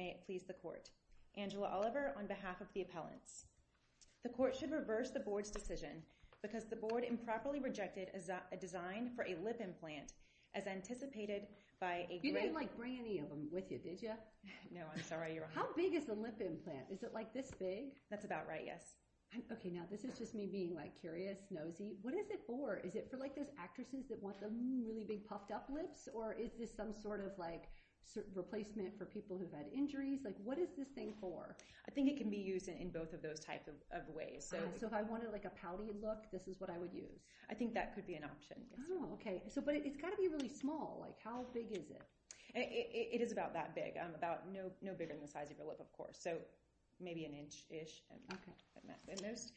May it please the court, Angela Oliver, on behalf of the appellants. The court should reverse the board's decision because the board improperly rejected a design for a lip implant as anticipated by a great... You didn't like bring any of them with you, did you? No, I'm sorry, you're wrong. How big is the lip implant? Is it like this big? That's about right, yes. Okay, now this is just me being like curious, nosy. What is it for? Is it for like those actresses that want the really big puffed up lips or is this some sort of like replacement for people who've had injuries? Like what is this thing for? I think it can be used in both of those types of ways. So if I wanted like a pouty look, this is what I would use? I think that could be an option. Oh, okay. But it's got to be really small. Like how big is it? It is about that big. About no bigger than the size of your lip, of course. So maybe an inch-ish. Okay. At most.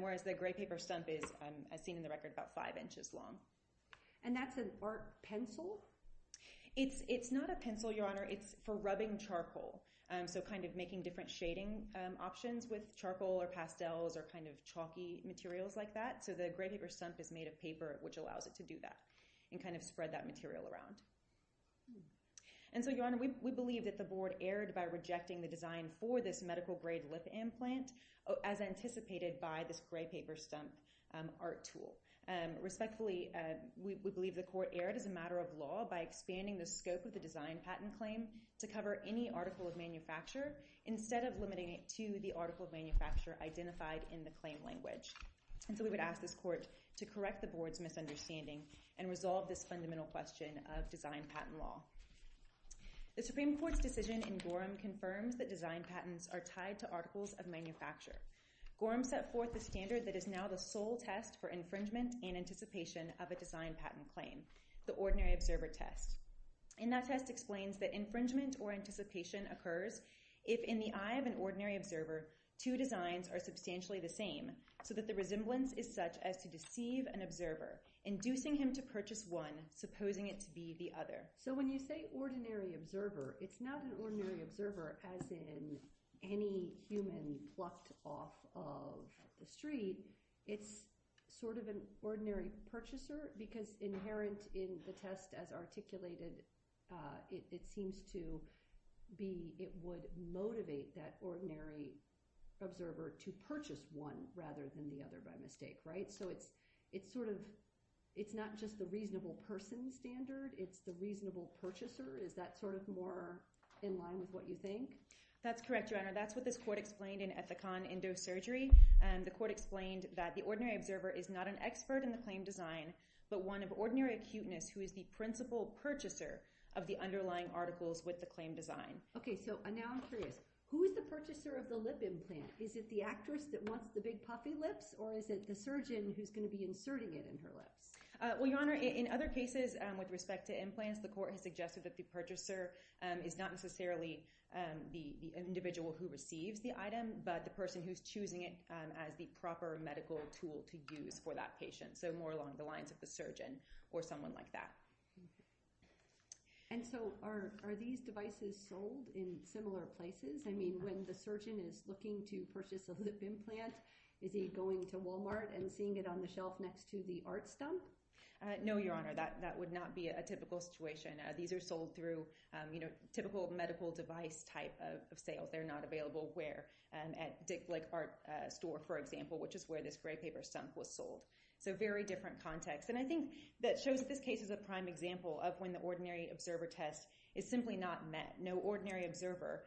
Whereas the gray paper stump is, as seen in the record, about five inches long. And that's an art pencil? It's not a pencil, Your Honor. It's for rubbing charcoal. So kind of making different shading options with charcoal or pastels or kind of chalky materials like that. So the gray paper stump is made of paper, which allows it to do that and kind of spread that material around. And so, Your Honor, we believe that the board erred by rejecting the design for this medical grade lip implant as anticipated by this gray paper stump art tool. Respectfully, we believe the court erred as a matter of law by expanding the scope of the design patent claim to cover any article of manufacture instead of limiting it to the article of manufacture identified in the claim language. And so we would ask this court to correct the board's misunderstanding and resolve this fundamental question of design patent law. The Supreme Court's decision in Gorham confirms that design patents are tied to articles of manufacture. Gorham set forth the standard that is now the sole test for infringement and anticipation of a design patent claim, the ordinary observer test. And that test explains that infringement or anticipation occurs if, in the eye of an ordinary observer, two designs are substantially the same so that the resemblance is such as to deceive an observer, inducing him to purchase one, supposing it to be the other. So when you say ordinary observer, it's not an ordinary observer as in any human fluffed off of the street. It's sort of an ordinary purchaser because inherent in the test as articulated, it seems to be it would motivate that ordinary observer to purchase one rather than the other by mistake, right? So it's sort of, it's not just the reasonable person standard. It's the reasonable purchaser. Is that sort of more in line with what you think? That's correct, Your Honor. That's what this court explained in Ethicon Endosurgery. The court explained that the ordinary observer is not an expert in the claim design but one of ordinary acuteness who is the principal purchaser of the underlying articles with the claim design. Okay, so now I'm curious. Who is the purchaser of the lip implant? Is it the actress that wants the big puffy lips or is it the surgeon who's going to be inserting it in her lips? Well, Your Honor, in other cases with respect to implants, the court has suggested that the purchaser is not necessarily the individual who receives the item but the person who's choosing it as the proper medical tool to use for that patient. So more along the lines of the surgeon or someone like that. And so are these devices sold in similar places? I mean, when the surgeon is looking to purchase a lip implant, is he going to Walmart and seeing it on the shelf next to the art stump? No, Your Honor. That would not be a typical situation. These are sold through, you know, typical medical device type of sales. They're not available where? At Dick Blake Art Store, for example, which is where this gray paper stump was sold. So very different context. And I think that shows that this case is a prime example of when the ordinary observer test is simply not met. No ordinary observer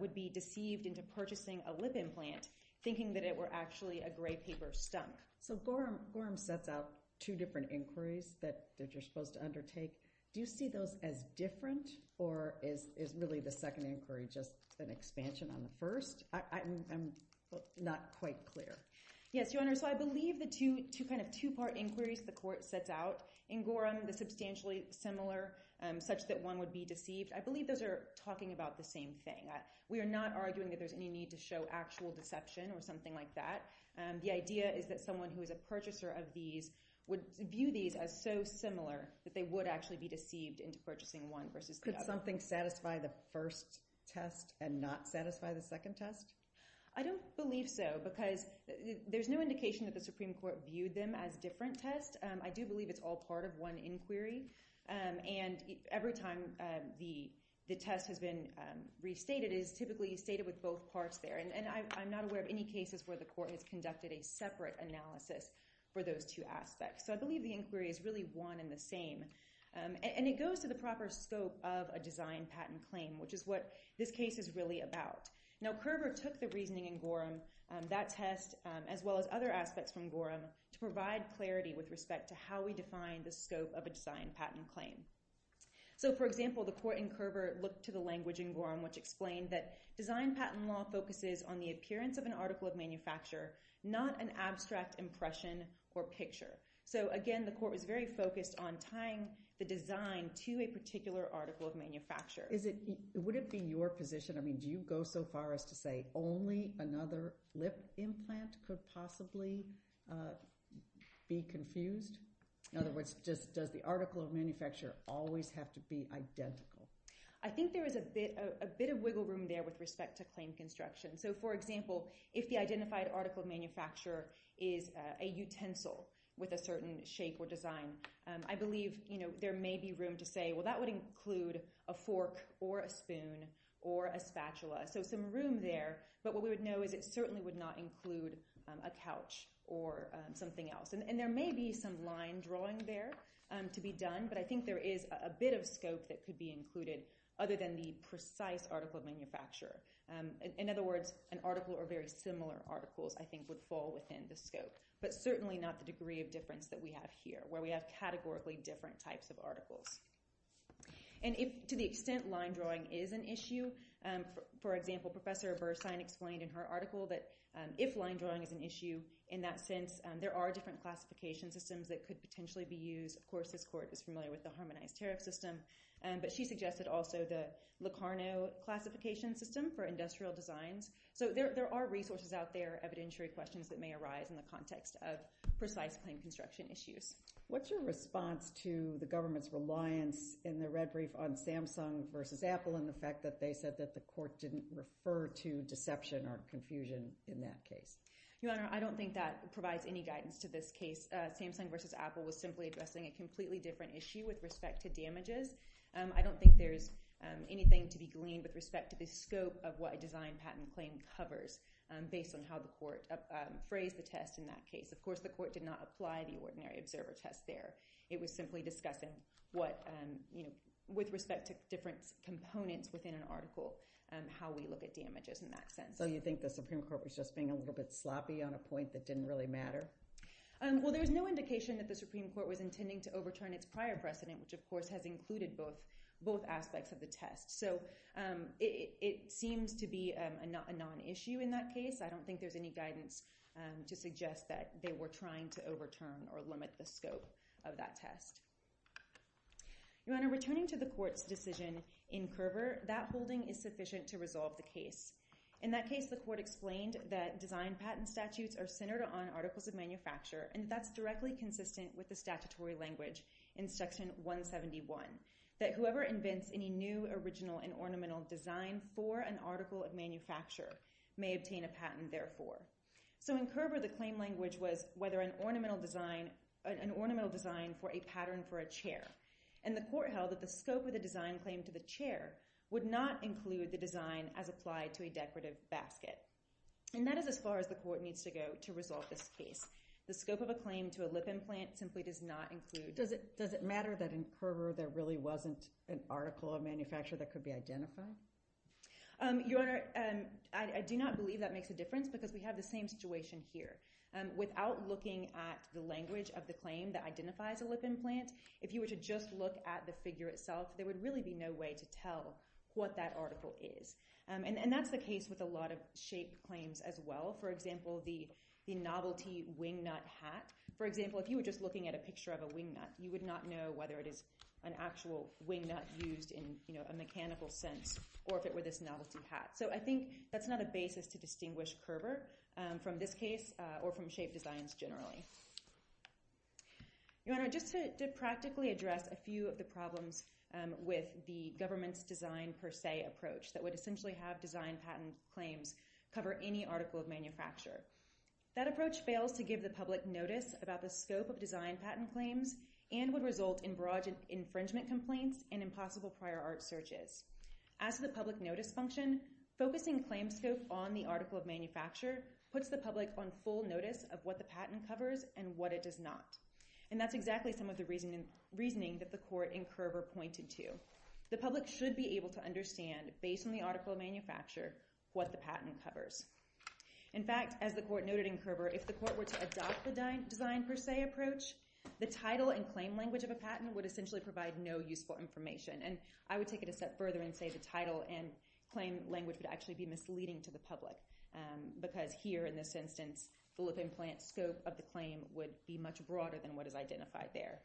would be deceived into purchasing a lip implant thinking that it were actually a gray paper stump. So Gorham sets out two different inquiries that you're supposed to undertake. Do you see those as different? Or is really the second inquiry just an expansion on the first? I'm not quite clear. Yes, Your Honor. So I believe the two kind of two-part inquiries the court sets out in Gorham, the substantially similar, such that one would be deceived, I believe those are talking about the same thing. We are not arguing that there's any need to show actual deception or something like that. The idea is that someone who is a purchaser of these would view these as so similar that they would actually be deceived into purchasing one versus the other. Could something satisfy the first test and not satisfy the second test? I don't believe so because there's no indication that the Supreme Court viewed them as different tests. I do believe it's all part of one inquiry. And every time the test has been restated, it is typically stated with both parts there. And I'm not aware of any cases where the court has conducted a separate analysis for those two aspects. So I believe the inquiry is really one and the same. And it goes to the proper scope of a design patent claim, which is what this case is really about. Now, Kerver took the reasoning in Gorham, that test, as well as other aspects from Gorham to provide clarity with respect to how we define the scope of a design patent claim. So, for example, the court in Kerver looked to the language in Gorham, which explained that design patent law focuses on the appearance of an article of manufacture, not an abstract impression or picture. So, again, the court was very focused on tying the design to a particular article of manufacture. Would it be your position, I mean, do you go so far as to say only another lip implant could possibly be confused? In other words, does the article of manufacture always have to be identical? I think there is a bit of wiggle room there with respect to claim construction. So, for example, if the identified article of manufacture is a utensil with a certain shape or design, I believe there may be room to say, well, that would include a fork or a spoon or a spatula. So some room there. But what we would know is it certainly would not include a couch or something else. And there may be some line drawing there to be done. But I think there is a bit of scope that could be included other than the precise article of manufacture. In other words, an article or very similar articles, I think, would fall within the scope. But certainly not the degree of difference that we have here, where we have categorically different types of articles. And to the extent line drawing is an issue, for example, Professor Bersine explained in her article that if line drawing is an issue, in that sense, there are different classification systems that could potentially be used. Of course, this court is familiar with the harmonized tariff system. But she suggested also the Locarno classification system for industrial designs. So there are resources out there, evidentiary questions that may arise in the context of precise plain construction issues. What's your response to the government's reliance in the red brief on Samsung versus Apple and the fact that they said that the court didn't refer to deception or confusion in that case? Your Honor, I don't think that provides any guidance to this case. Samsung versus Apple was simply addressing a completely different issue with respect to damages. I don't think there's anything to be gleaned with respect to the scope of what a design patent claim covers based on how the court phrased the test in that case. Of course, the court did not apply the ordinary observer test there. It was simply discussing what, you know, with respect to different components within an article, how we look at damages in that sense. So you think the Supreme Court was just being a little bit sloppy on a point that didn't really matter? Well, there was no indication that the Supreme Court was intending to overturn its prior precedent, which of course has included both aspects of the test. So it seems to be a non-issue in that case. I don't think there's any guidance to suggest that they were trying to overturn or limit the scope of that test. Your Honor, returning to the court's decision in Curver, that holding is sufficient to resolve the case. In that case, the court explained that design patent statutes are centered on articles of Section 171, that whoever invents any new original and ornamental design for an article of manufacture may obtain a patent therefore. So in Curver, the claim language was whether an ornamental design for a pattern for a chair. And the court held that the scope of the design claim to the chair would not include the design as applied to a decorative basket. And that is as far as the court needs to go to resolve this case. The scope of a claim to a lip implant simply does not include— Does it matter that in Curver there really wasn't an article of manufacture that could be identified? Your Honor, I do not believe that makes a difference because we have the same situation here. Without looking at the language of the claim that identifies a lip implant, if you were to just look at the figure itself, there would really be no way to tell what that article is. And that's the case with a lot of shape claims as well. For example, the novelty wingnut hat. For example, if you were just looking at a picture of a wingnut, you would not know whether it is an actual wingnut used in a mechanical sense or if it were this novelty hat. So I think that's not a basis to distinguish Curver from this case or from shape designs generally. Your Honor, just to practically address a few of the problems with the government's design per se approach that would essentially have design patent claims cover any article of manufacture. That approach fails to give the public notice about the scope of design patent claims and would result in barrage infringement complaints and impossible prior art searches. As to the public notice function, focusing claim scope on the article of manufacture puts the public on full notice of what the patent covers and what it does not. And that's exactly some of the reasoning that the Court in Curver pointed to. The public should be able to understand, based on the article of manufacture, what the patent covers. In fact, as the Court noted in Curver, if the Court were to adopt the design per se approach, the title and claim language of a patent would essentially provide no useful information. And I would take it a step further and say the title and claim language would actually be misleading to the public because here, in this instance, the lip implant scope of the claim would be much broader than what is identified there.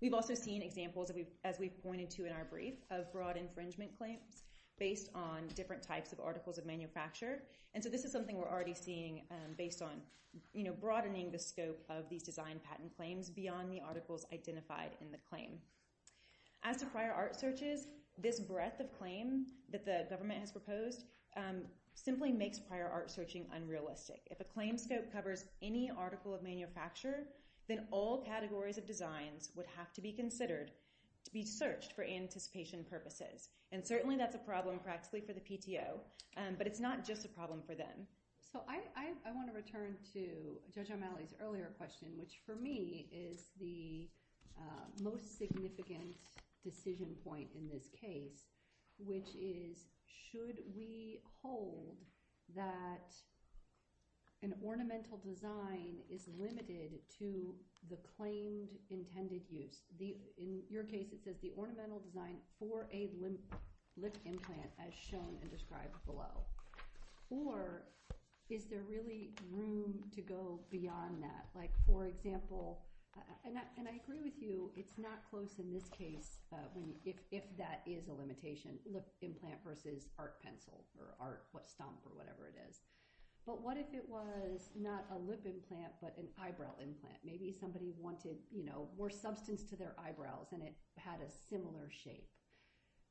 We've also seen examples, as we've pointed to in our brief, of broad infringement claims based on different types of articles of manufacture. And so this is something we're already seeing based on broadening the scope of these design patent claims beyond the articles identified in the claim. As to prior art searches, this breadth of claim that the government has proposed simply makes prior art searching unrealistic. If a claim scope covers any article of manufacture, then all categories of designs would have to be considered to be searched for anticipation purposes. And certainly that's a problem practically for the PTO, but it's not just a problem for them. So I want to return to Judge O'Malley's earlier question, which for me is the most significant decision point in this case, which is should we hold that an ornamental design is limited to the claimed intended use? In your case, it says the ornamental design for a lip implant, as shown and described below. Or is there really room to go beyond that? For example, and I agree with you, it's not close in this case if that is a limitation, lip implant versus art pencil or art stump or whatever it is. But what if it was not a lip implant but an eyebrow implant? Maybe somebody wanted more substance to their eyebrows and it had a similar shape.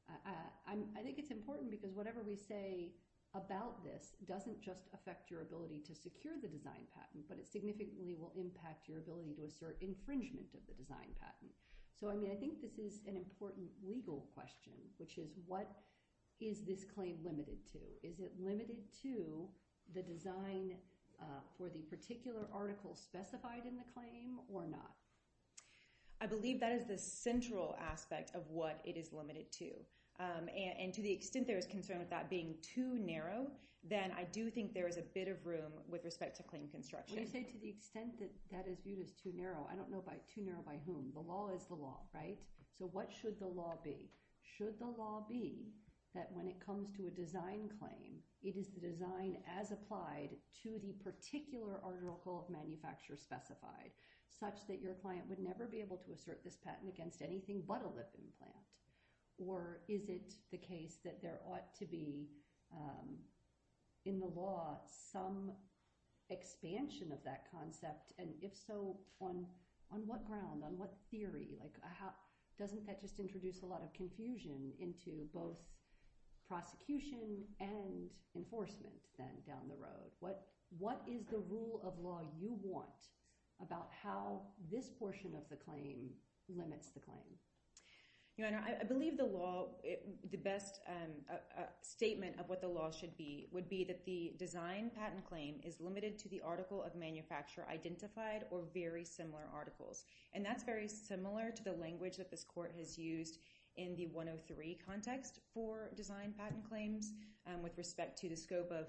I think it's important because whatever we say about this doesn't just affect your ability to secure the design patent, but it significantly will impact your ability to assert infringement of the design patent. So I think this is an important legal question, which is what is this claim limited to? Is it limited to the design for the particular article specified in the claim or not? I believe that is the central aspect of what it is limited to. And to the extent there is concern with that being too narrow, then I do think there is a bit of room with respect to claim construction. When you say to the extent that that is viewed as too narrow, I don't know by too narrow by whom. The law is the law, right? So what should the law be? Should the law be that when it comes to a design claim, it is the design as applied to the particular article of manufacture specified, such that your client would never be able to assert this patent against anything but a lip implant? Or is it the case that there ought to be in the law some expansion of that concept? And if so, on what ground? On what theory? Doesn't that just introduce a lot of confusion into both prosecution and enforcement down the road? What is the rule of law you want about how this portion of the claim limits the claim? Your Honor, I believe the best statement of what the law should be would be that the design patent claim is limited to the article of manufacture identified or very similar articles. And that's very similar to the language that this Court has used in the 103 context for design patent claims with respect to the scope of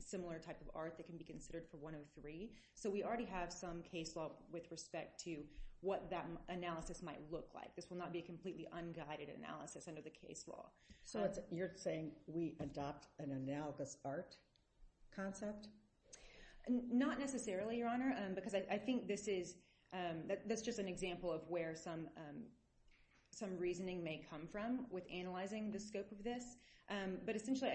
similar type of art that can be considered for 103. So we already have some case law with respect to what that analysis might look like. This will not be a completely unguided analysis under the case law. So you're saying we adopt an analogous art concept? Not necessarily, Your Honor. Because I think this is just an example of where some reasoning may come from with analyzing the scope of this. But essentially,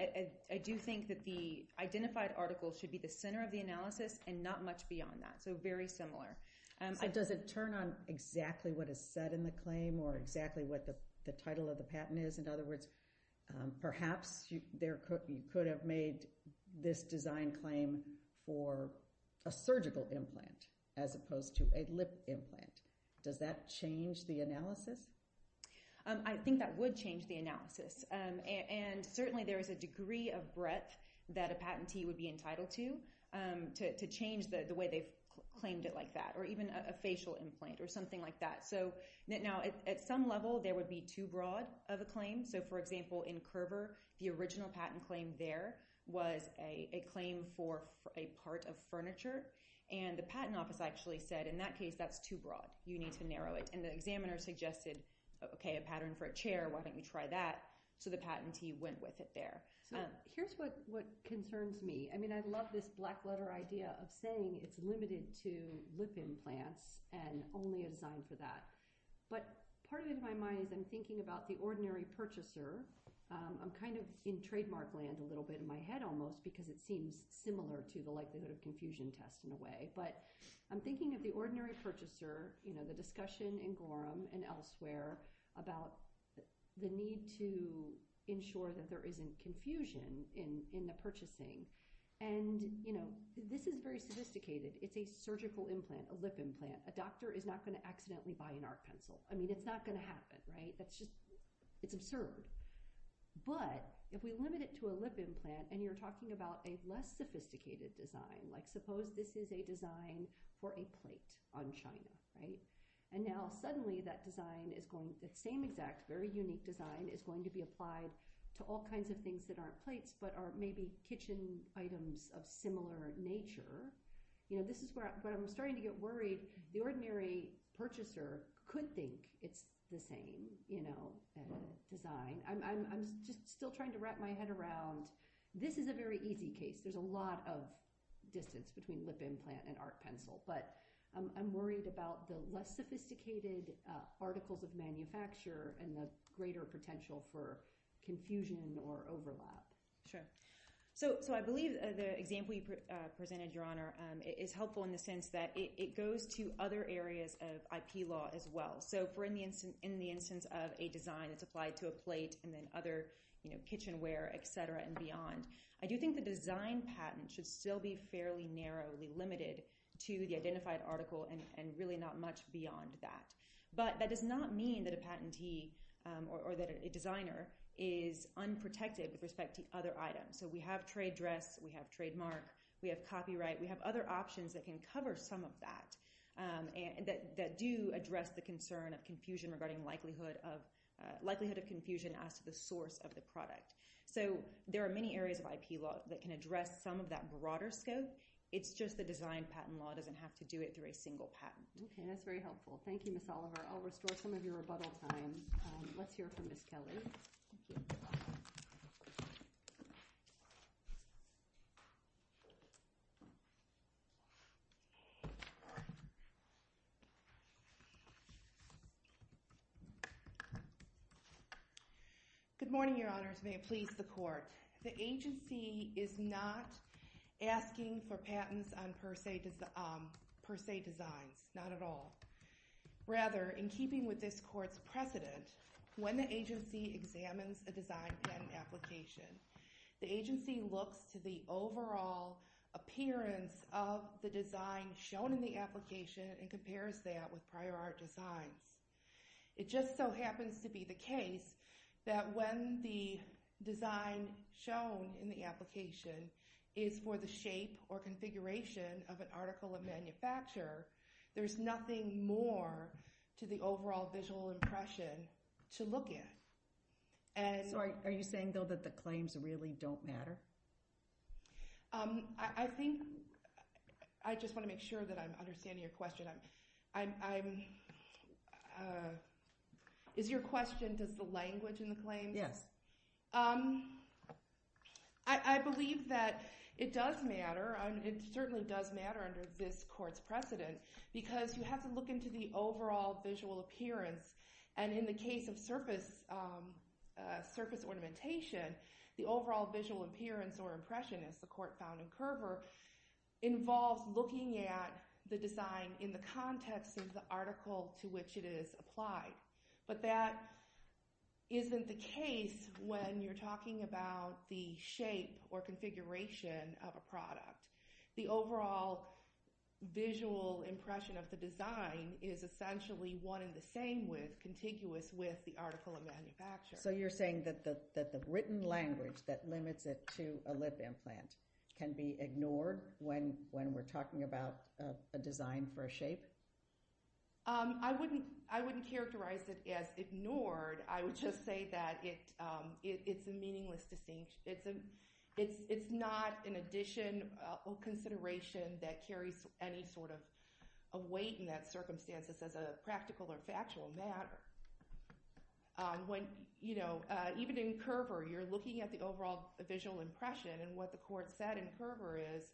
I do think that the identified article should be the center of the analysis and not much beyond that. So very similar. So does it turn on exactly what is said in the claim or exactly what the title of the patent is? In other words, perhaps you could have made this design claim for a surgical implant as opposed to a lip implant. Does that change the analysis? I think that would change the analysis. And certainly there is a degree of breadth that a patentee would be entitled to, to change the way they've claimed it like that. Or even a facial implant or something like that. At some level, there would be too broad of a claim. So for example, in Curver, the original patent claim there was a claim for a part of furniture. And the patent office actually said, in that case, that's too broad. You need to narrow it. And the examiner suggested, okay, a pattern for a chair. Why don't you try that? So the patentee went with it there. Here's what concerns me. I love this black letter idea of saying it's limited to lip implants and only a patentee can design for that. But part of my mind, I'm thinking about the ordinary purchaser. I'm kind of in trademark land a little bit in my head almost because it seems similar to the likelihood of confusion test in a way. But I'm thinking of the ordinary purchaser, the discussion in Gorham and elsewhere about the need to ensure that there isn't confusion in the purchasing. And this is very sophisticated. It's a surgical implant, a lip implant. A doctor is not going to accidentally buy an art pencil. I mean, it's not going to happen, right? That's just, it's absurd. But if we limit it to a lip implant and you're talking about a less sophisticated design, like suppose this is a design for a plate on China, right? And now suddenly that design is going, that same exact very unique design is going to be applied to all kinds of things that aren't plates but are maybe kitchen items of similar nature. This is where I'm starting to get worried. The ordinary purchaser could think it's the same design. I'm just still trying to wrap my head around this is a very easy case. There's a lot of distance between lip implant and art pencil. But I'm worried about the less sophisticated articles of manufacture and the greater potential for confusion or overlap. Sure. So I believe the example you presented, Your Honor, is helpful in the sense that it goes to other areas of IP law as well. So in the instance of a design that's applied to a plate and then other kitchenware, et cetera, and beyond, I do think the design patent should still be fairly narrowly limited to the identified article and really not much beyond that. But that does not mean that a patentee or that a designer is unprotected with respect to other items. So we have trade dress. We have trademark. We have copyright. We have other options that can cover some of that and that do address the concern of confusion regarding likelihood of confusion as to the source of the product. So there are many areas of IP law that can address some of that broader scope. It's just the design patent law doesn't have to do it through a single patent. Okay. That's very helpful. Thank you, Ms. Oliver. I'll restore some of your rebuttal time. Let's hear from Ms. Kelly. Good morning, Your Honors. May it please the Court. The agency is not asking for patents on per se designs. Not at all. Rather, in keeping with this Court's precedent, when the agency examines a design patent application, the agency looks to the overall appearance of the design shown in the application and compares that with prior art designs. It just so happens to be the case that when the design shown in the application is for the shape or configuration of an article of design, the agency is looking more to the overall visual impression to look at. Sorry. Are you saying, though, that the claims really don't matter? I just want to make sure that I'm understanding your question. Is your question, does the language in the claims? Yes. I believe that it does matter. It certainly does matter under this Court's precedent because you have to look into the overall visual appearance. And in the case of surface ornamentation, the overall visual appearance or impression, as the Court found in Kerber, involves looking at the design in the context of the article to which it is applied. But that isn't the case when you're talking about the shape or configuration of a product. The overall visual impression of the design is essentially one and the same, contiguous with the article of manufacture. So you're saying that the written language that limits it to a lip implant can be ignored when we're talking about a design for a shape? I wouldn't characterize it as ignored. I would just say that it's a meaningless distinction. It's not an addition or consideration that carries any sort of weight in that circumstance as a practical or factual matter. Even in Kerber, you're looking at the overall visual impression and what the Court said in Kerber is,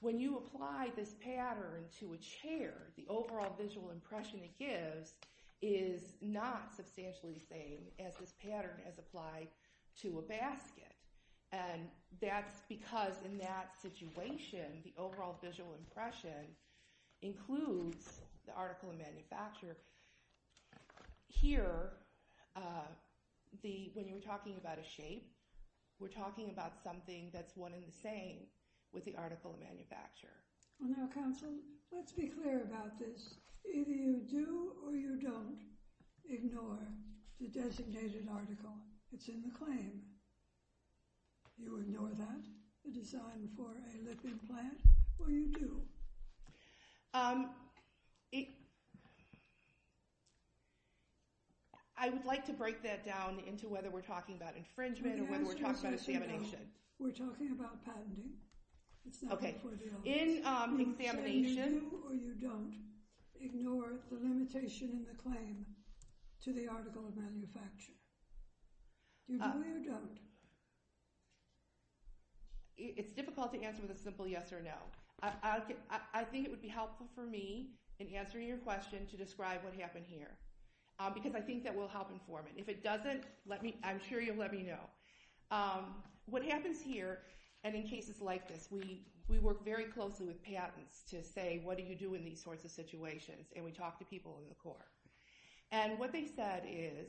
when you apply this pattern to a chair, the overall visual impression it gives is not substantially the same as this pattern is applied to a basket. And that's because in that situation, the overall visual impression includes the article of manufacture. Here, when you're talking about a shape, we're talking about something that's one and the same with the article of manufacture. Well now, counsel, let's be clear about this. Either you do or you don't ignore the designated article that's in the claim. You ignore that, the design for a lip implant, or you do? I would like to break that down into whether we're talking about infringement or whether we're talking about examination. We're talking about patenting. Okay, in examination... You say you do or you don't ignore the limitation in the claim to the article of manufacture. Do you do it or don't? It's difficult to answer with a simple yes or no. I think it would be helpful for me, in answering your question, to describe what happened here. Because I think that will help inform it. If it doesn't, I'm sure you'll let me know. What happens here, and in cases like this, we work very closely with patents to say, what do you do in these sorts of situations? And we talk to people in the court. And what they said is,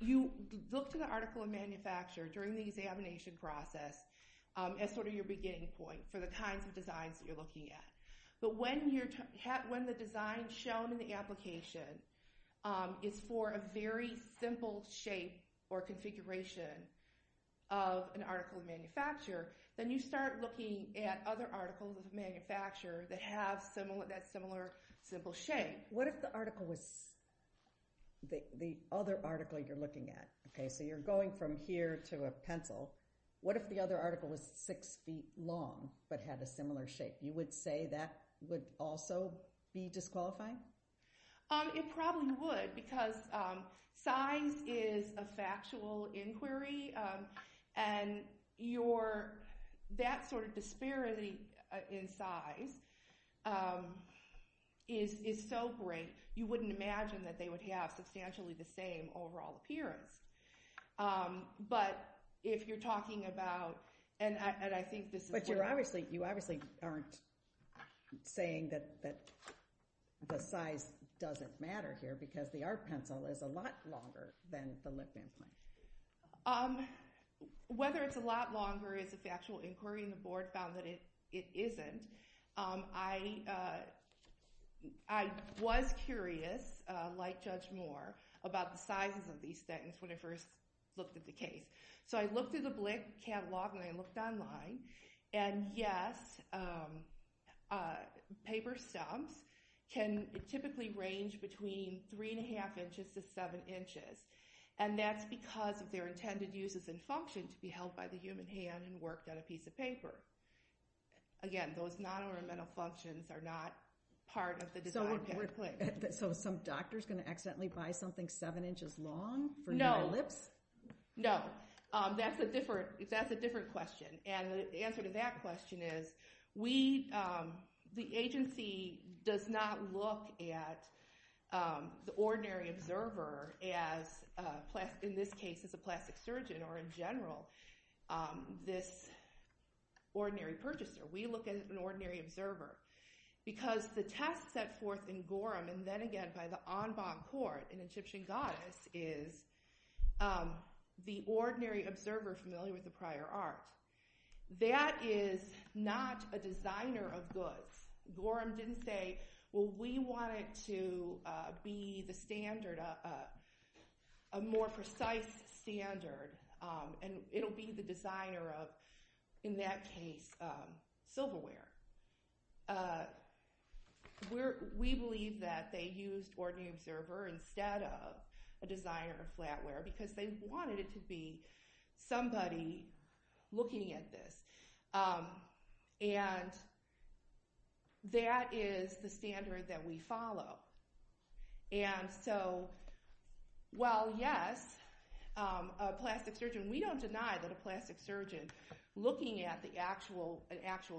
you look to the article of manufacture during the examination process as sort of your beginning point for the kinds of designs that you're looking at. But when the design shown in the application is for a very simple shape or configuration of an article of manufacture, then you start looking at other articles of manufacture that have that similar simple shape. What if the other article you're looking at... Okay, so you're going from here to a pencil. What if the other article was six feet long but had a similar shape? You would say that would also be disqualifying? It probably would, because size is a factual inquiry, and that sort of disparity in size is so great, you wouldn't imagine that they would have substantially the same overall appearance. But if you're talking about... But you obviously aren't saying that the size doesn't matter here because the art pencil is a lot longer than the lip implant. Whether it's a lot longer is a factual inquiry, and the board found that it isn't. I was curious, like Judge Moore, about the sizes of these things when I first looked at the case. So I looked at the Blick catalog, and I looked online, and yes, paper stumps can typically range between 3 1⁄2 inches to 7 inches. And that's because of their intended uses and function to be held by the human hand and worked on a piece of paper. Again, those non-ornamental functions are not part of the design. So some doctor's going to accidentally buy something 7 inches long for your lips? No. That's a different question. And the answer to that question is the agency does not look at the ordinary observer as, in this case, a plastic surgeon or, in general, this ordinary purchaser. We look at an ordinary observer. Because the test set forth in Gorham and then again by the en banc court in Egyptian Goddess is the ordinary observer familiar with the prior art. That is not a designer of goods. Gorham didn't say, well, we want it to be the standard, a more precise standard. And it'll be the designer of, in that case, silverware. We believe that they used ordinary observer instead of a designer of flatware because they wanted it to be somebody looking at this. And that is the standard that we follow. And so, well, yes, a plastic surgeon, we don't deny that a plastic surgeon looking at an actual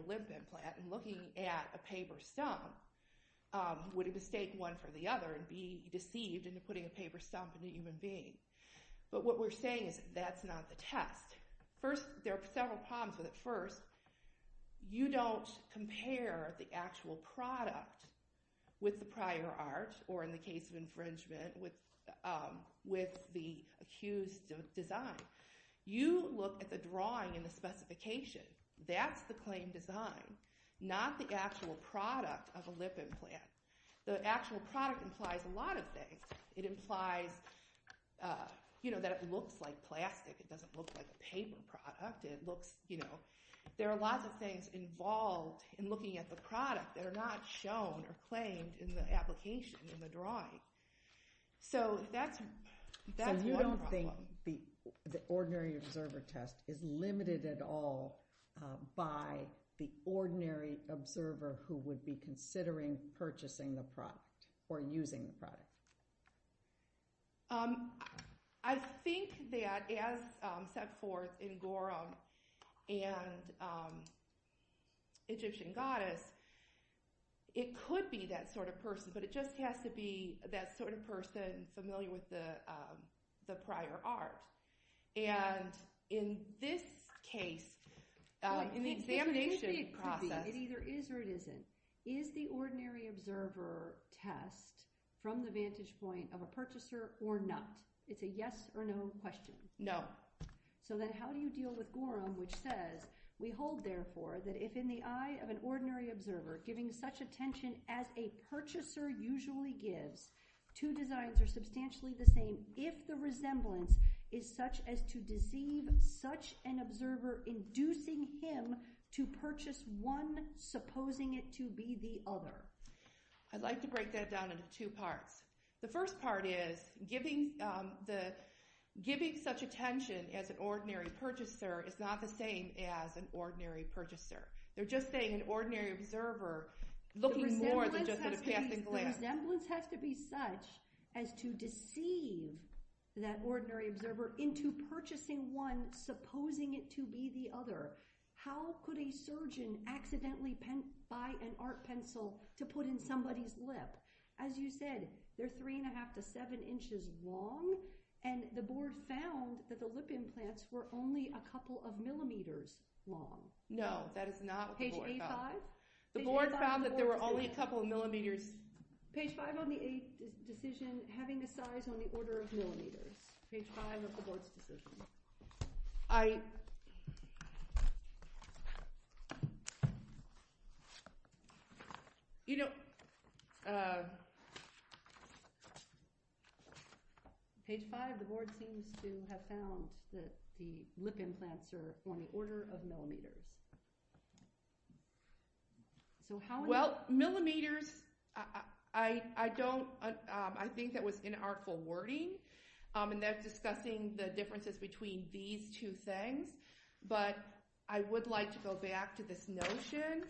lip implant and looking at a paper stump would mistake one for the other and be deceived into putting a paper stump in a human being. But what we're saying is that's not the test. First, there are several problems with it. First, you don't compare the actual product with the prior art or, in the case of infringement, with the accused's design. You look at the drawing and the specification. That's the claimed design, not the actual product of a lip implant. The actual product implies a lot of things. It implies that it looks like plastic. It doesn't look like a paper product. There are lots of things involved in looking at the product that are not shown or claimed in the application, in the drawing. So that's one problem. So you don't think the ordinary observer test is limited at all by the ordinary observer who would be considering purchasing the product or using the product. I think that, as set forth in Gorham and Egyptian Goddess, it could be that sort of person, but it just has to be that sort of person familiar with the prior art. And in this case, in the examination process... It either is or it isn't. Is the ordinary observer test from the vantage point of a purchaser or not? It's a yes or no question. So then how do you deal with Gorham, which says, we hold, therefore, that if in the eye of an ordinary observer giving such attention as a purchaser usually gives, two designs are substantially the same if the resemblance is such as to deceive such an observer inducing him to purchase one supposing it to be the other? I'd like to break that down into two parts. The first part is giving such attention as an ordinary purchaser is not the same as an ordinary purchaser. They're just saying an ordinary observer looking more than just at a passing glance. The resemblance has to be such as to deceive that ordinary observer into purchasing one supposing it to be the other. How could a surgeon accidentally buy an art pencil to put in somebody's lip? As you said, they're 3 1⁄2 to 7 inches long and the board found that the lip implants were only a couple of millimeters long. No, that is not what the board found. The board found that there were only a couple of millimeters. having a size on the order of millimeters. Page 5 of the board's decision. I Page 5, the board seems to have found that the lip implants are on the order of millimeters. Well, millimeters I don't I think that was inartful wording and that's discussing the differences between these two things but I would like to go back to this notion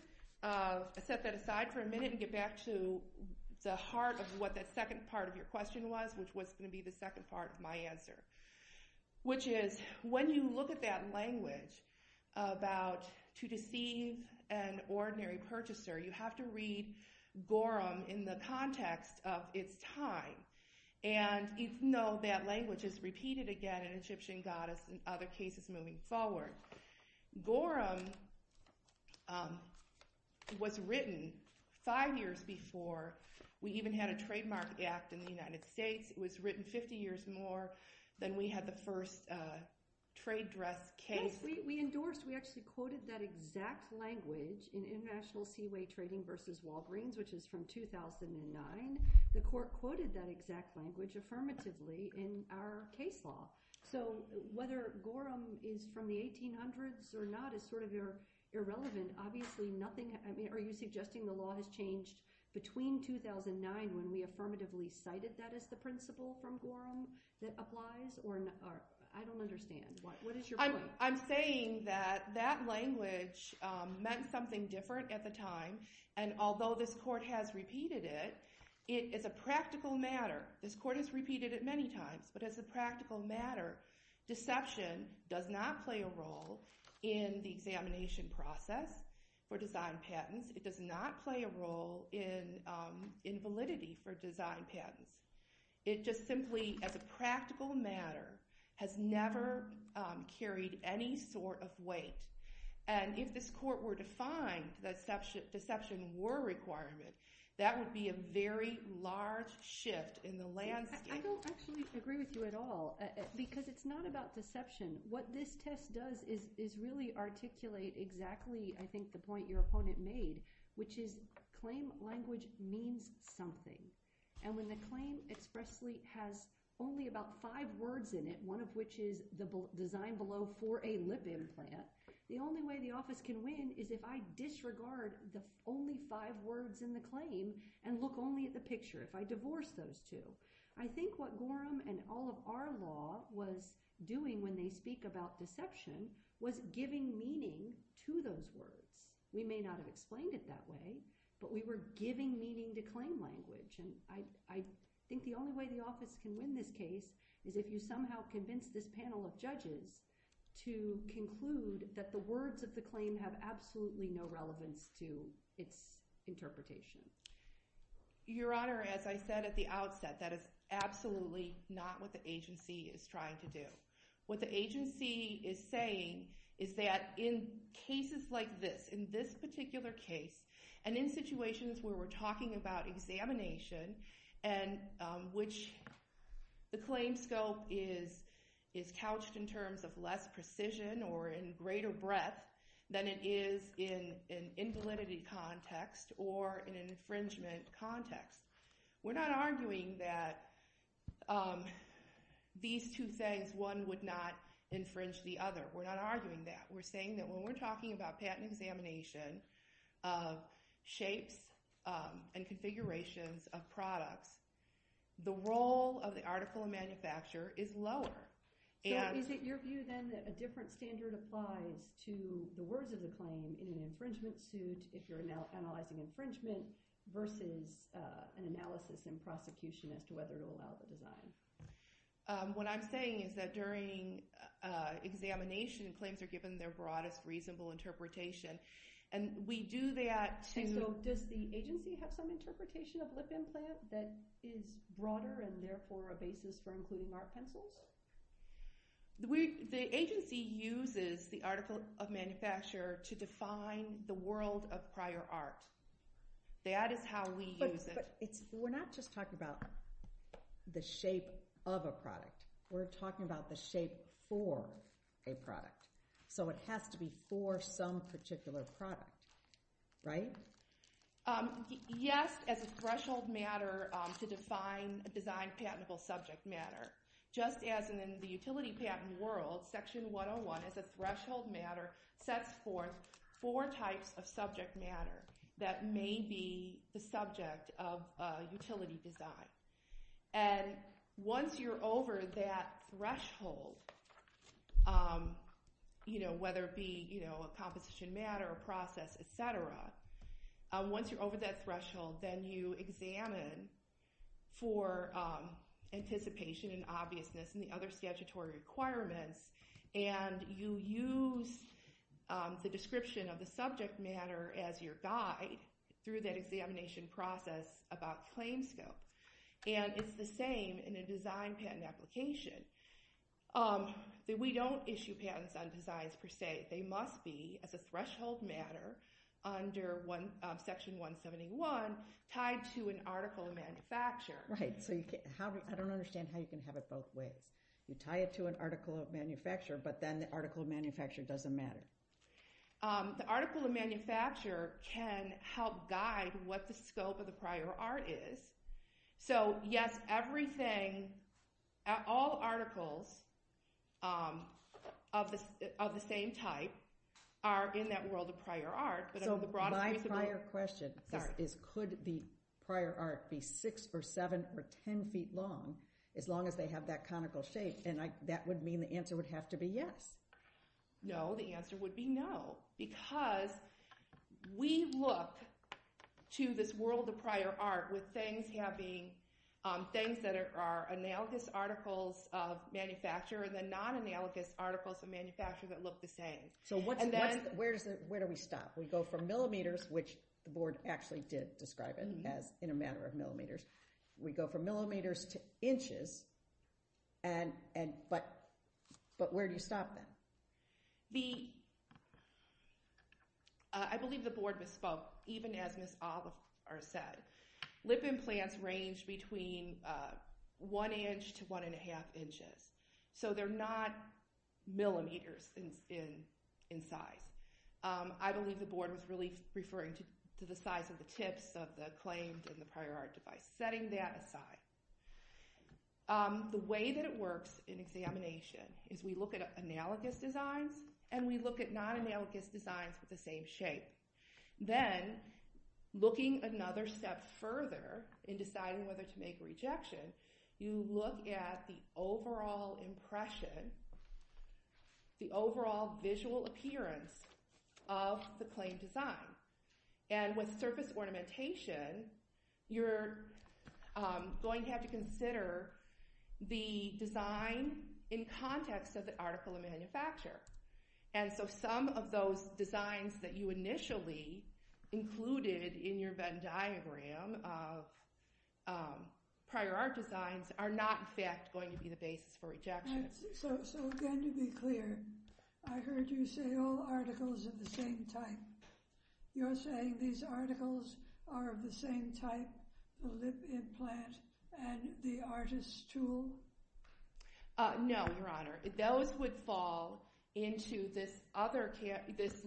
set that aside for a minute and get back to the heart of what that second part of your question was which was going to be the second part of my answer which is when you look at that language about to deceive an ordinary purchaser you have to read Gorham in the context of its time and you know that language is repeated again in Egyptian Goddess and other cases moving forward Gorham was written 5 years before we even had a trademark act in the United States it was written 50 years more than we had the first trade dress case. Yes, we endorsed we actually quoted that exact language in International Seaway Trading vs. Walgreens which is from 2009 the court quoted that exact language affirmatively in our case law so whether Gorham is from the 1800's or not is sort of irrelevant obviously nothing are you suggesting the law has changed between 2009 when we affirmatively cited that as the principle from Gorham that applies or I don't understand I'm saying that that language meant something different at the time and although this court has repeated it it is a practical matter this court has repeated it many times but as a practical matter deception does not play a role in the examination process for design patents it does not play a role in validity for design patents it just simply as a practical matter has never carried any sort of weight and if this court were to find that deception were required that would be a very large shift in the landscape I don't actually agree with you at all because it's not about deception what this test does is really articulate exactly I think the point your opponent made which is claim language means something and when the claim expressly has only about five words in it one of which is the design below for a lip implant the only way the office can win is if I disregard the only five words in the claim and look only at the picture if I divorce those two I think what Gorham and all of our law was doing when they speak about deception was giving meaning to those words we may not have explained it that way but we were giving meaning to claim language I think the only way the office can win this case is if you somehow convince this panel of judges to conclude that the words of the claim have absolutely no relevance to its interpretation your honor, as I said at the outset that is absolutely not what the agency is trying to do what the agency is saying is that in cases like this, in this particular case and in situations where we're talking about examination and which the claim scope is is couched in terms of less precision or in greater breadth than it is in validity context or infringement context we're not arguing that these two things, one would not infringe the other, we're not arguing that we're saying that when we're talking about patent examination of shapes and configurations of products the role of the article of manufacture is lower so is it your view then that a different standard applies to the words of the claim in an infringement suit if you're analyzing infringement versus an analysis in prosecution as to whether it will allow the design what I'm saying is that during examination, claims are given their broadest reasonable interpretation and we do that to does the agency have some interpretation of lip implant that is broader and therefore a basis for including art pencils the agency uses the article of manufacture to define the world of prior art that is how we use it we're not just talking about the shape of a product we're talking about the shape for a product so it has to be for some particular product, right? yes just as a threshold matter to define a design patentable subject matter just as in the utility patent world section 101 is a threshold matter sets forth four types of subject matter that may be the subject of utility design and once you're over that threshold whether it be a composition matter, a process, etc once you're over that threshold then you examine for anticipation and obviousness and the other statutory requirements and you use the description of the subject matter as your guide through that examination process about claim scope and it's the same in a design patent application we don't issue patents on designs per se, they must be as a threshold matter under section 171 tied to an article of manufacture I don't understand how you can have it both ways you tie it to an article of manufacture but then the article of manufacture doesn't matter the article of manufacture can help guide what the scope of the prior art is so yes, everything all articles of the same type are in that world of prior art so my prior question is could the prior art be 6 or 7 or 10 feet long as long as they have that conical shape and that would mean the answer would have to be yes no, the answer would be no, because we look to this world of prior art with things having things that are analogous articles of manufacture and then there are non-analogous articles of manufacture that look the same where do we stop? we go from millimeters which the board actually did describe it in a matter of millimeters we go from millimeters to inches but where do you stop then? I believe the board misspoke even as Ms. Oliver said lip implants range between one inch to one and a half inches so they're not millimeters in size I believe the board was really referring to the size of the tips of the claimed and the prior art device setting that aside the way that it works in examination is we look at analogous designs and we look at non-analogous designs with the same shape then looking another step further in deciding whether to make a rejection you look at the overall impression the overall visual appearance of the claimed design and with surface ornamentation you're going to have to consider the design in context of the article of manufacture and so some of those designs that you initially included in your Venn diagram of prior art designs are not in fact going to be the basis for rejection so again to be clear I heard you say all articles are the same type you're saying these articles are of the same type the lip implant and the artist's tool no your honor those would fall into this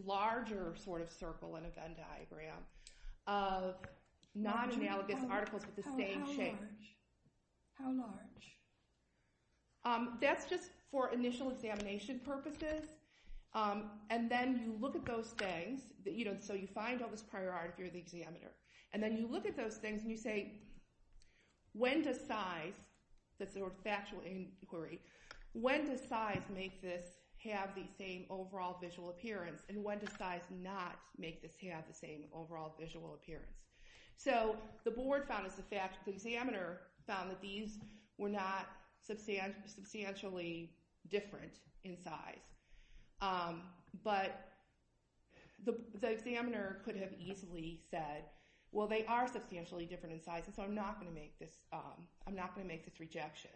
larger sort of circle in a Venn diagram of non-analogous articles with the same shape how large? that's just for initial examination purposes and then you look at those things so you find all this prior art if you're the examiner and then you look at those things and you say when does size that's a factual inquiry when does size make this have the same overall visual appearance and when does size not make this have the same overall visual appearance so the board found that these were not substantially different in size but the examiner could have easily said well they are substantially different in size so I'm not going to make this rejection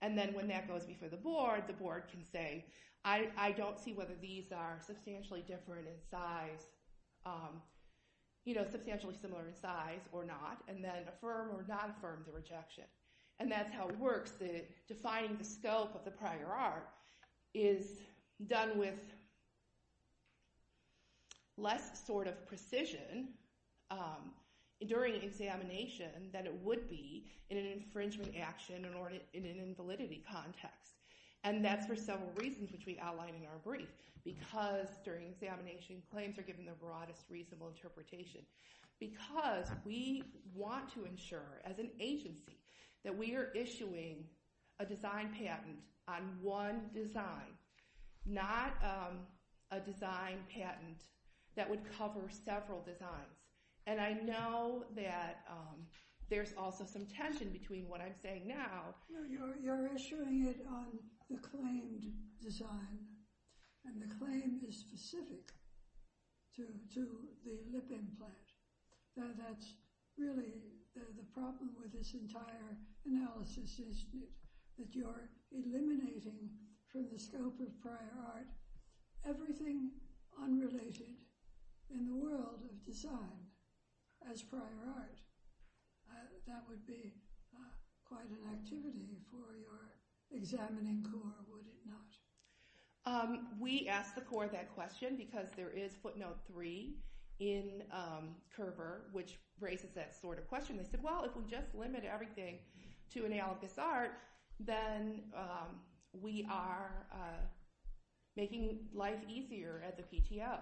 and then when that goes before the board the board can say I don't see whether these are substantially different in size you know substantially similar in size or not and then affirm or not affirm the rejection and that's how it works defining the scope of the prior art is done with less sort of precision during examination than it would be in an infringement action or in an invalidity context and that's for several reasons which we outline in our brief because during examination claims are given the broadest reasonable interpretation because we want to ensure as an agency that we are issuing a design patent on one design not a design patent that would cover several designs and I know that there's also some tension between what I'm saying now you're issuing it on the claimed design and the claim is specific to the lip implant so that's really the problem with this entire analysis is that you're eliminating from the scope of prior art everything unrelated in the world of design as prior art that would be quite an activity for your examining corps would it not? We ask the corps that question because there is footnote 3 in Curver which raises that sort of question they said well if we just limit everything to analogous art then we are making life easier at the PTO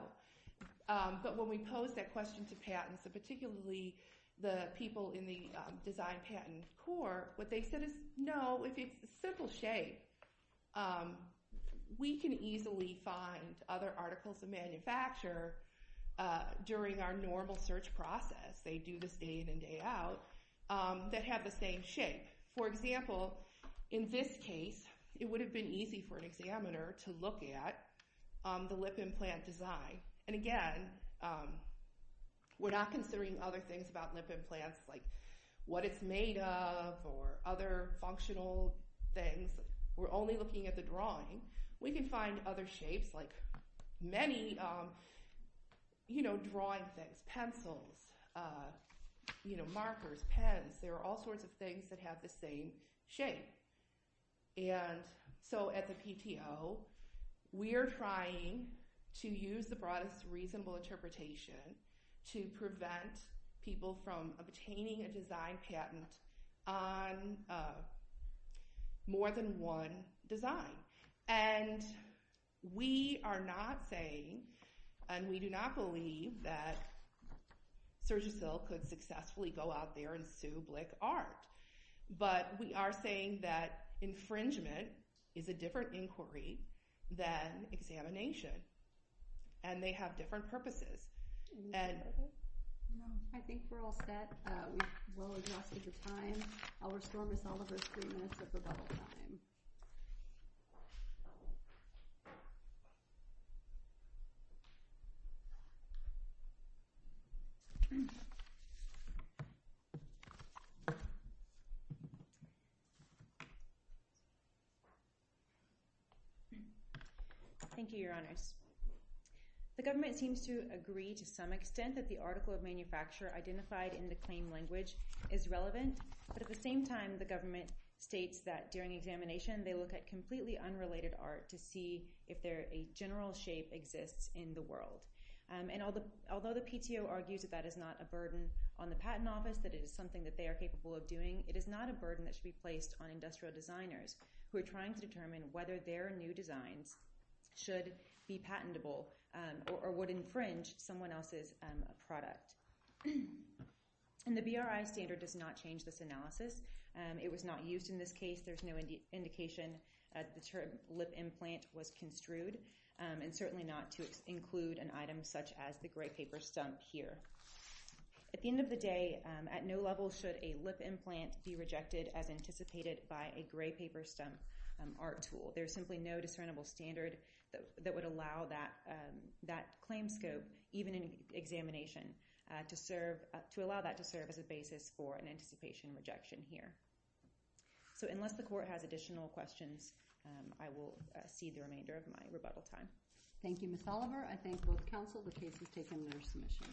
but when we pose that question to patents and particularly the people in the design patent corps what they said is no it's simple shape we can easily find other articles of manufacture during our normal search process they do this day in and day out that have the same shape for example in this case it would have been easy for an examiner to look at the lip implant design and again we're not considering other things about lip implants like what it's made of or other functional things, we're only looking at the drawing we can find other shapes like many drawing things pencils markers, pens there are all sorts of things that have the same shape so at the PTO we are trying to use the broadest reasonable interpretation to prevent people from obtaining a design patent on more than one design and we are not saying and we do not believe that Sergio Sill could successfully go out there and sue Blick Art but we are saying that infringement is a different inquiry than examination and they have different purposes and I think we're all set we've well adjusted the time I'll restore Ms. Oliver's three minutes of the bubble time Thank you, your honors The government seems to agree to some extent that the article of manufacture identified in the claim language is relevant but at the same time the government states that during examination they look at completely unrelated art to see if a general shape exists in the world and although the PTO argues that that is not a burden on the patent office, that it is something that they are capable of doing, it is not a burden that should be placed on industrial designers who are trying to determine whether their new designs should be patentable or would infringe someone else's product and the BRI standard does not change this analysis, it was not used in this case, there is no indication that the term lip implant was construed and certainly not to include an item such as the gray paper stump here At the end of the day, at no level should a lip implant be rejected as anticipated by a gray paper stump art tool. There is simply no discernible standard that would allow that claim scope, even in examination to allow that to serve as a basis for an anticipation rejection here. So unless the court has additional questions I will cede the remainder of my rebuttal time. Thank you Ms. Oliver, I thank both counsel, the case is taken under submission.